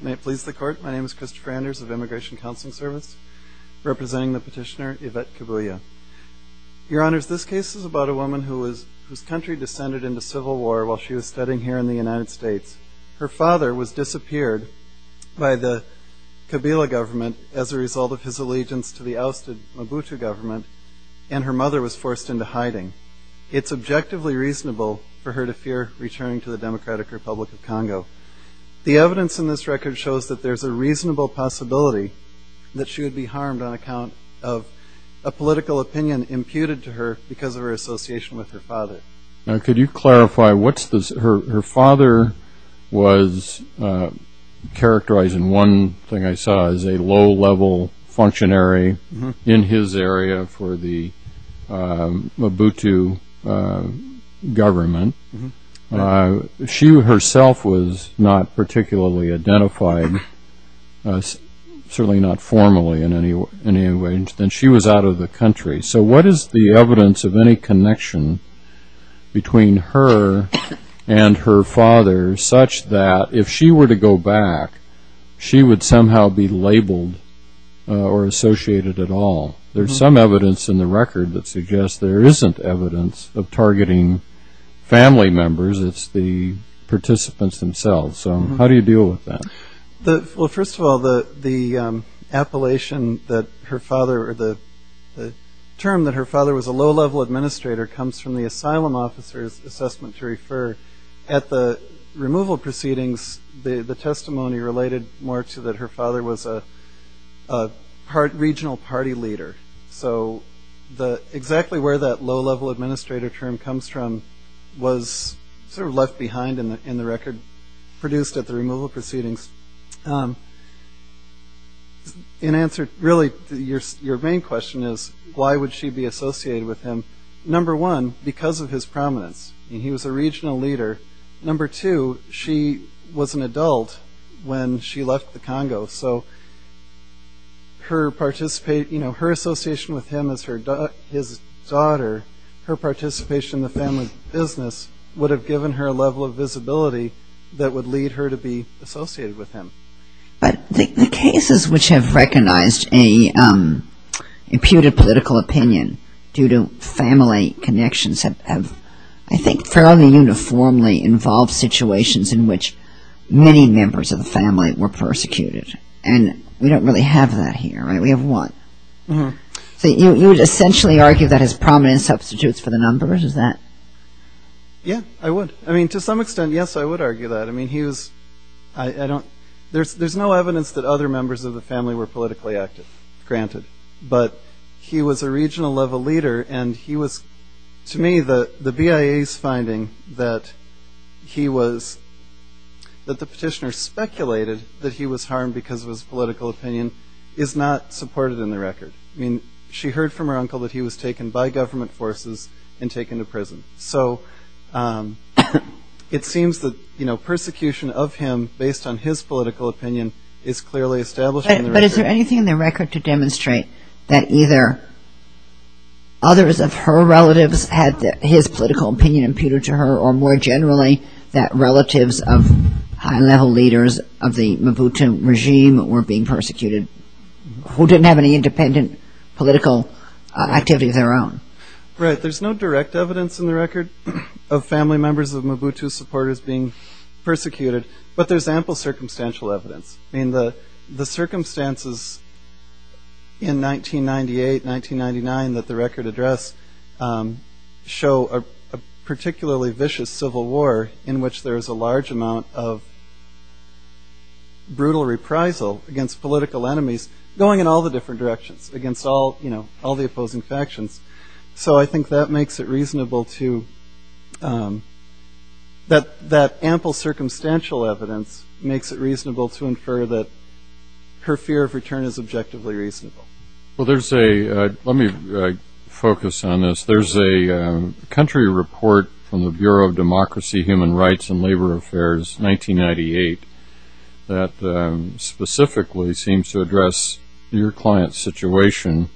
May it please the Court, my name is Christopher Anders of Immigration Counseling Service, representing the petitioner Yvette Kabuya. Your Honors, this case is about a woman whose country descended into civil war while she was studying here in the United States. Her father was disappeared by the Kabila government as a result of his allegiance to the ousted Mobutu government, and her mother was forced into hiding. It's objectively reasonable for her to fear returning to the Democratic Republic of Congo. The evidence in this record shows that there's a reasonable possibility that she would be harmed on account of a political opinion imputed to her because of her association with her father. Now could you clarify, her father was characterized in one thing I saw as a low-level functionary in his area for the Mobutu government. If she herself was not particularly identified, certainly not formally in any way, then she was out of the country. So what is the evidence of any connection between her and her father such that if she were to go back, she would somehow be labeled or associated at all? There's some evidence in the record that suggests there isn't evidence of targeting family members, it's the participants themselves. So how do you deal with that? Well, first of all, the term that her father was a low-level administrator comes from the asylum officer's assessment to refer. At the removal proceedings, the testimony related more to that her father was a regional party leader. So exactly where that low-level administrator term comes from was sort of left behind in the record produced at the removal proceedings. In answer, really your main question is why would she be associated with him? Number one, because of his prominence. He was a regional leader. Number two, she was an adult when she left the Congo. So her association with him as his daughter, her participation in the family business, would have given her a level of visibility that would lead her to be associated with him. But the cases which have recognized an imputed political opinion due to family connections have, I think, fairly uniformly involved situations in which many members of the family were persecuted. And we don't really have that here, right? We have one. So you would essentially argue that his prominence substitutes for the numbers, is that? Yeah, I would. I mean, to some extent, yes, I would argue that. I mean, he was, I don't, there's no evidence that other members of the family were politically active, granted. But he was a regional level leader, and he was, to me, the BIA's finding that he was, that the petitioner speculated that he was harmed because of his political opinion is not supported in the record. I mean, she heard from her uncle that he was taken by government forces and taken to prison. So it seems that, you know, persecution of him based on his political opinion is clearly established in the record. It's hard to demonstrate that either others of her relatives had his political opinion imputed to her, or more generally, that relatives of high-level leaders of the Mobutu regime were being persecuted, who didn't have any independent political activity of their own. Right. There's no direct evidence in the record of family members of Mobutu supporters being persecuted, but there's ample circumstantial evidence. I mean, the circumstances in 1998, 1999 that the record address show a particularly vicious civil war in which there is a large amount of brutal reprisal against political enemies going in all the different directions, against all, you know, all the opposing factions. So I think that makes it reasonable to, that ample circumstantial evidence makes it reasonable to infer that her fear of return is objectively reasonable. Well, there's a, let me focus on this. There's a country report from the Bureau of Democracy, Human Rights, and Labor Affairs, 1998, that specifically seems to address your client's situation.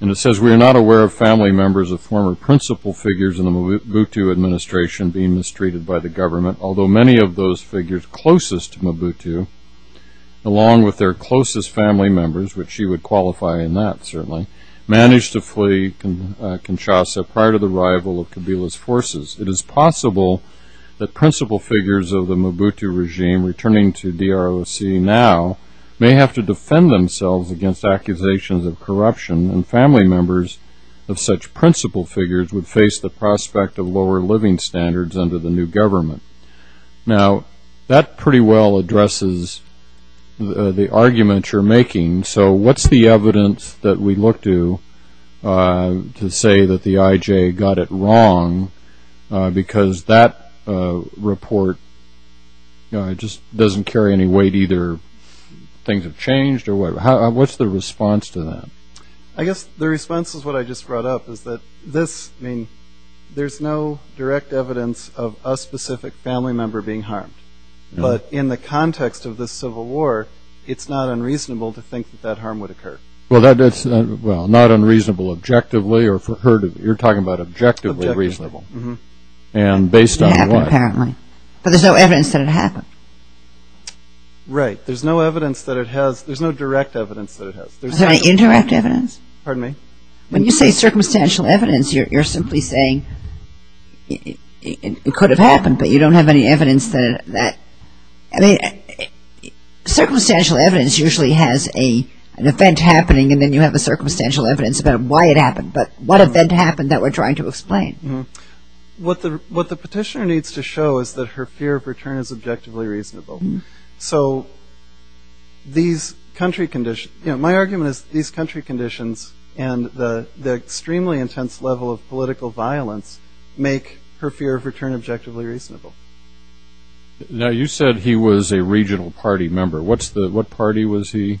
And it says, we are not aware of family members of former principal figures in the Mobutu administration being mistreated by the government, although many of those figures closest to along with their closest family members, which she would qualify in that certainly, managed to flee Kinshasa prior to the arrival of Kabila's forces. It is possible that principal figures of the Mobutu regime returning to DROC now may have to defend themselves against accusations of corruption, and family members of such principal figures would face the prospect of lower living standards under the new government. Now, that pretty well addresses the argument you're making. So what's the evidence that we look to, to say that the IJ got it wrong? Because that report just doesn't carry any weight, either things have changed or whatever. What's the response to that? I guess the response is what I just brought up, is that this, I mean, there's no direct evidence of a specific family member being harmed. But in the context of the Civil War, it's not unreasonable to think that that harm would occur. Well, that's, well, not unreasonable objectively, or for her to, you're talking about objectively reasonable. Objectively. Mm-hmm. And based on what? It happened, apparently. But there's no evidence that it happened. Right. There's no evidence that it has, there's no direct evidence that it has. Is there any indirect evidence? Pardon me? When you say circumstantial evidence, you're simply saying it could have happened, but you don't have any evidence that, I mean, circumstantial evidence usually has an event happening and then you have a circumstantial evidence about why it happened. But what event happened that we're trying to explain? What the petitioner needs to show is that her fear of return is objectively reasonable. Mm-hmm. So these country, you know, my argument is these country conditions and the extremely intense level of political violence make her fear of return objectively reasonable. Now you said he was a regional party member. What's the, what party was he?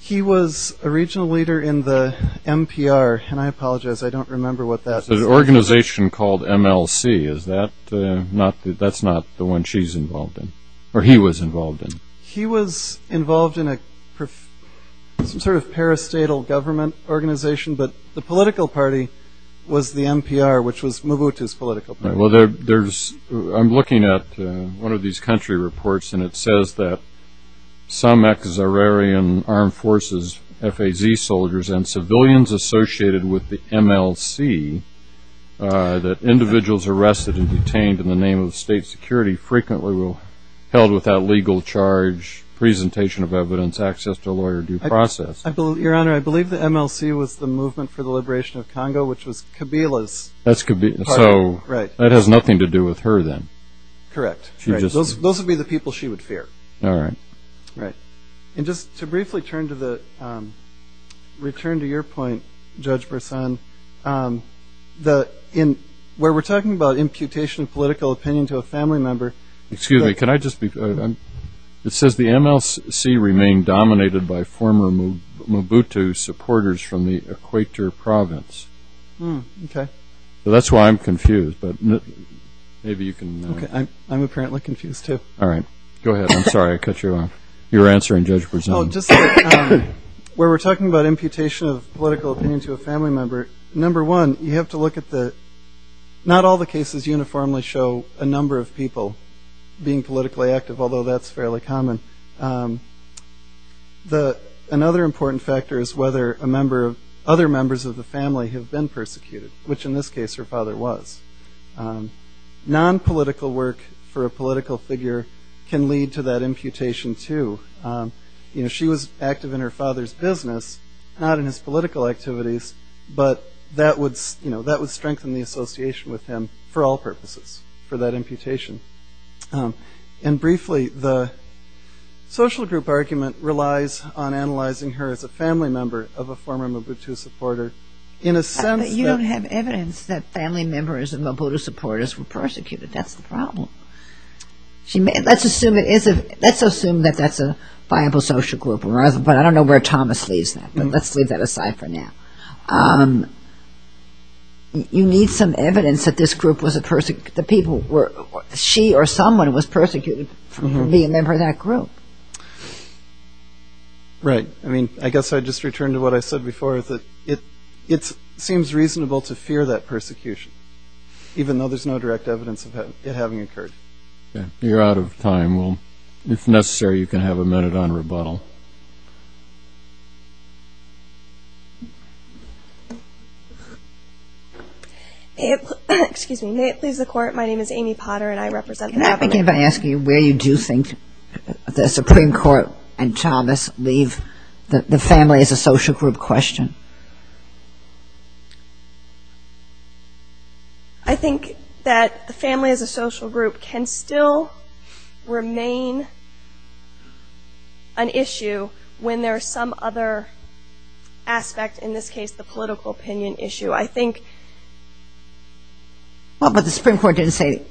He was a regional leader in the MPR, and I apologize, I don't remember what that is. There's an organization called MLC, is that not, that's not the one she's involved in. Or he was involved in. He was involved in a, some sort of parastatal government organization, but the political party was the MPR, which was Mobutu's political party. Well, there's, I'm looking at one of these country reports and it says that some ex-Zahrarian armed forces, FAZ soldiers, and civilians associated with the MLC that individuals arrested and detained in the name of state security frequently will, held without legal charge, presentation of evidence, access to a lawyer, due process. Your Honor, I believe the MLC was the Movement for the Liberation of Congo, which was Kabila's party. That's Kabila's, so that has nothing to do with her then. Correct. She just. Those would be the people she would fear. All right. Right. And just to briefly turn to the, return to your point, Judge Brisson, the, where we're talking about imputation of political opinion to a family member. Excuse me, can I just be, it says the MLC remained dominated by former Mobutu supporters from the Equator province. Okay. So that's why I'm confused, but maybe you can. I'm apparently confused too. All right. Go ahead. I'm sorry, I cut you off. You were answering, Judge Brisson. Oh, just, where we're talking about imputation of political opinion to a family member, number one, you have to look at the, not all the cases uniformly show a number of people being politically active, although that's fairly common. Another important factor is whether a member of, other members of the family have been persecuted, which in this case her father was. Non-political work for a political figure can lead to that imputation too. You know, she was active in her father's business, not in his political activities, but that would, you know, that would strengthen the association with him for all purposes for that imputation. And briefly, the social group argument relies on analyzing her as a family member of a former Mobutu supporter. In a sense that- You don't have evidence that family members of Mobutu supporters were persecuted. That's the problem. She may, let's assume it is a, let's assume that that's a viable social group, but I don't know where Thomas leaves that, but let's leave that aside for now. You need some evidence that this group was a person, the people were, she or someone was persecuted for being a member of that group. Right. I mean, I guess I'd just return to what I said before, that it seems reasonable to fear that persecution, even though there's no direct evidence of it having occurred. You're out of time. Well, if necessary, you can have a minute on rebuttal. Excuse me, may it please the court, my name is Amy Potter and I represent the- Can I begin by asking you where you do think the Supreme Court and Thomas leave the family as a social group question? I think that the family as a social group can still remain an issue when there's some other aspect, in this case the political opinion issue. I think- Well, but the Supreme Court didn't say,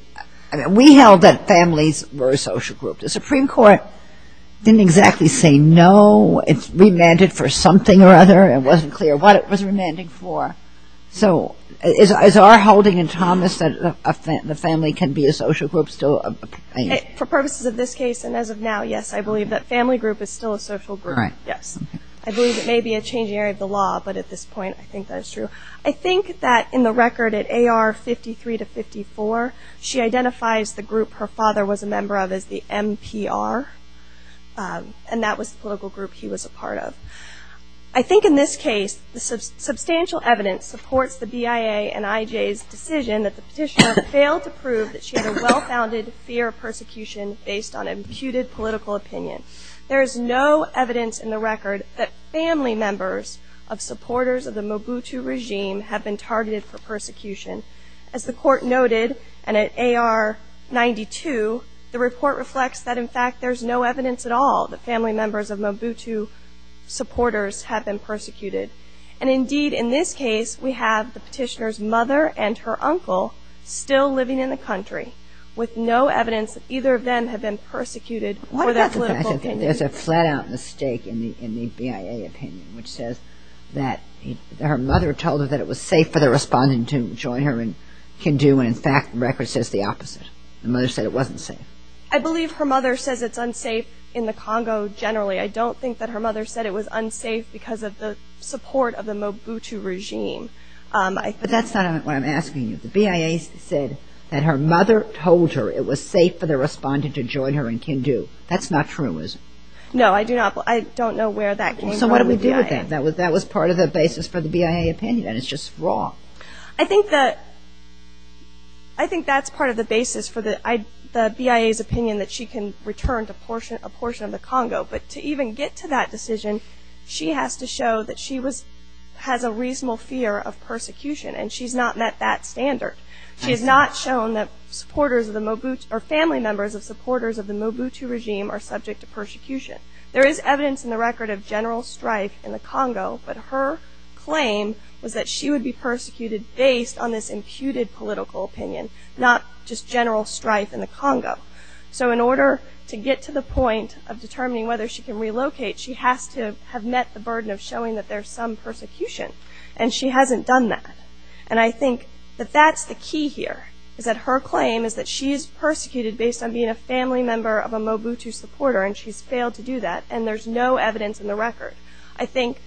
I mean, we held that families were a social group. The Supreme Court didn't exactly say no, it's remanded for something or other, it wasn't clear what it was remanding for. So is our holding in Thomas that the family can be a social group still? For purposes of this case and as of now, yes, I believe that family group is still a social group. Right. Yes. I believe it may be a changing area of the law, but at this point I think that it's true. I think that in the record at AR 53 to 54, she identifies the group her father was a part of, the PR, and that was the political group he was a part of. I think in this case, the substantial evidence supports the BIA and IJ's decision that the petitioner failed to prove that she had a well-founded fear of persecution based on imputed political opinion. There is no evidence in the record that family members of supporters of the Mobutu regime have been targeted for persecution. As the court noted, and at AR 92, the report reflects that, in fact, there's no evidence at all that family members of Mobutu supporters have been persecuted. And indeed, in this case, we have the petitioner's mother and her uncle still living in the country with no evidence that either of them have been persecuted for that political opinion. I think there's a flat-out mistake in the BIA opinion, which says that her mother told her that it was safe for the respondent to join her in Kindu, and in fact, the record says the opposite. The mother said it wasn't safe. I believe her mother says it's unsafe in the Congo generally. I don't think that her mother said it was unsafe because of the support of the Mobutu regime. But that's not what I'm asking you. The BIA said that her mother told her it was safe for the respondent to join her in Kindu. That's not true, is it? No, I do not. I don't know where that came from in the BIA. So what do we do with that? That was part of the basis for the BIA opinion, and it's just wrong. I think that's part of the basis for the BIA's opinion that she can return to a portion of the Congo. But to even get to that decision, she has to show that she has a reasonable fear of persecution, and she's not met that standard. She has not shown that family members of supporters of the Mobutu regime are subject to persecution. There is evidence in the record of general strife in the Congo, but her claim was that she would be persecuted based on this imputed political opinion, not just general strife in the Congo. So in order to get to the point of determining whether she can relocate, she has to have met the burden of showing that there's some persecution, and she hasn't done that. And I think that that's the key here, is that her claim is that she is persecuted based on being a family member of a Mobutu supporter, and she's failed to do that. And there's no evidence in the record. I think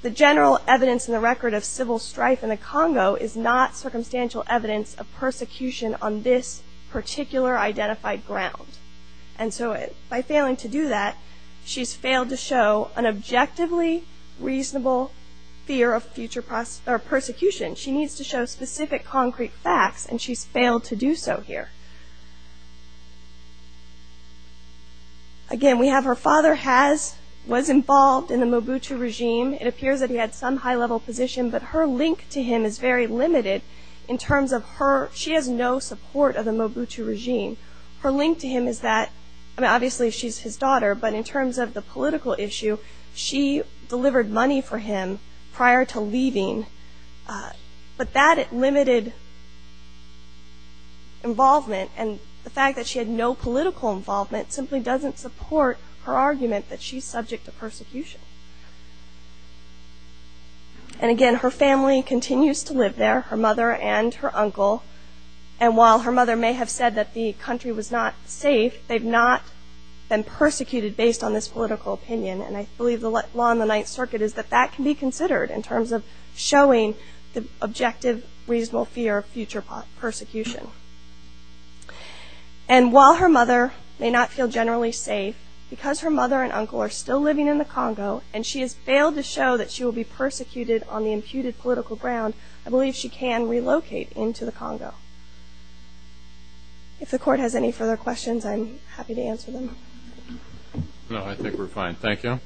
the general evidence in the record of civil strife in the Congo is not circumstantial evidence of persecution on this particular identified ground. And so by failing to do that, she's failed to show an objectively reasonable fear of future persecution. She needs to show specific concrete facts, and she's failed to do so here. Again, we have her father has, was involved in the Mobutu regime. It appears that he had some high-level position, but her link to him is very limited in terms of her, she has no support of the Mobutu regime. Her link to him is that, I mean, obviously she's his daughter, but in terms of the political But that limited involvement, and the fact that she had no political involvement, simply doesn't support her argument that she's subject to persecution. And again, her family continues to live there, her mother and her uncle, and while her mother may have said that the country was not safe, they've not been persecuted based on this political opinion. And I believe the law in the Ninth Circuit is that that can be considered in terms of objective reasonable fear of future persecution. And while her mother may not feel generally safe, because her mother and uncle are still living in the Congo, and she has failed to show that she will be persecuted on the imputed political ground, I believe she can relocate into the Congo. If the court has any further questions, I'm happy to answer them. No, I think we're fine, thank you.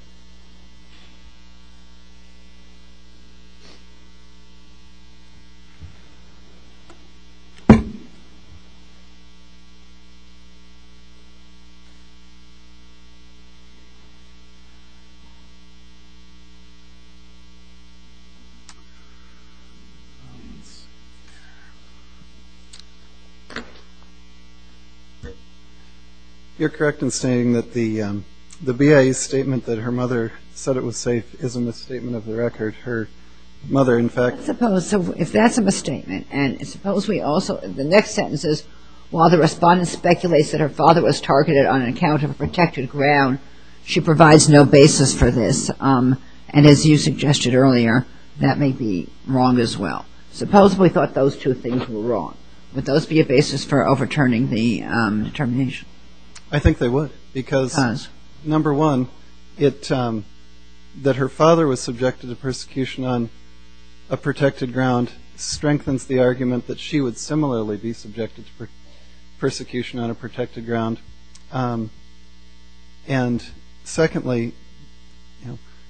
You're correct in saying that the BIA statement that her mother said it was safe is a misstatement of the record. Her mother, in fact. I suppose, so if that's a misstatement, and suppose we also, the next sentence is, while the respondent speculates that her father was targeted on account of a protected ground, she provides no basis for this, and as you suggested earlier, that may be wrong as well. Supposed we thought those two things were wrong, would those be a basis for overturning the determination? I think they would, because, number one, that her father was subjected to persecution on a protected ground strengthens the argument that she would similarly be subjected to persecution on a protected ground, and secondly,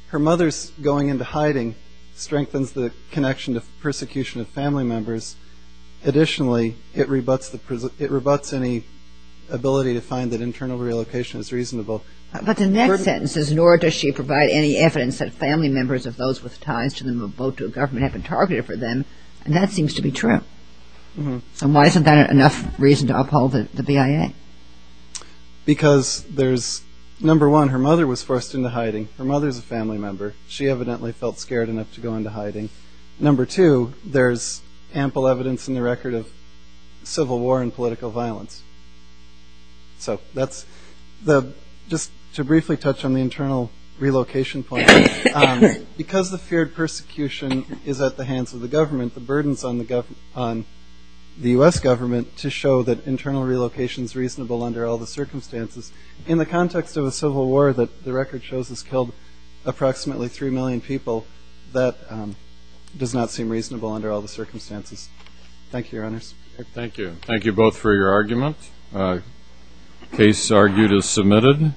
her mother's going into hiding strengthens the connection to persecution of family members. Additionally, it rebutts any ability to find that internal relocation is reasonable. But the next sentence is, nor does she provide any evidence that family members of those with ties to the Mobutu government have been targeted for them, and that seems to be true. And why isn't that enough reason to uphold the BIA? Because there's, number one, her mother was forced into hiding. Her mother's a family member. She evidently felt scared enough to go into hiding. Number two, there's ample evidence in the record of civil war and political violence. So that's the, just to briefly touch on the internal relocation point, because the feared persecution is at the hands of the government, the burdens on the US government to show that internal relocation's reasonable under all the circumstances, in the context of a civil war that the record shows has killed approximately 3 million people, that does not seem reasonable under all the circumstances. Thank you, Your Honors. Thank you. Thank you both for your argument. The case argued is submitted. Thank you.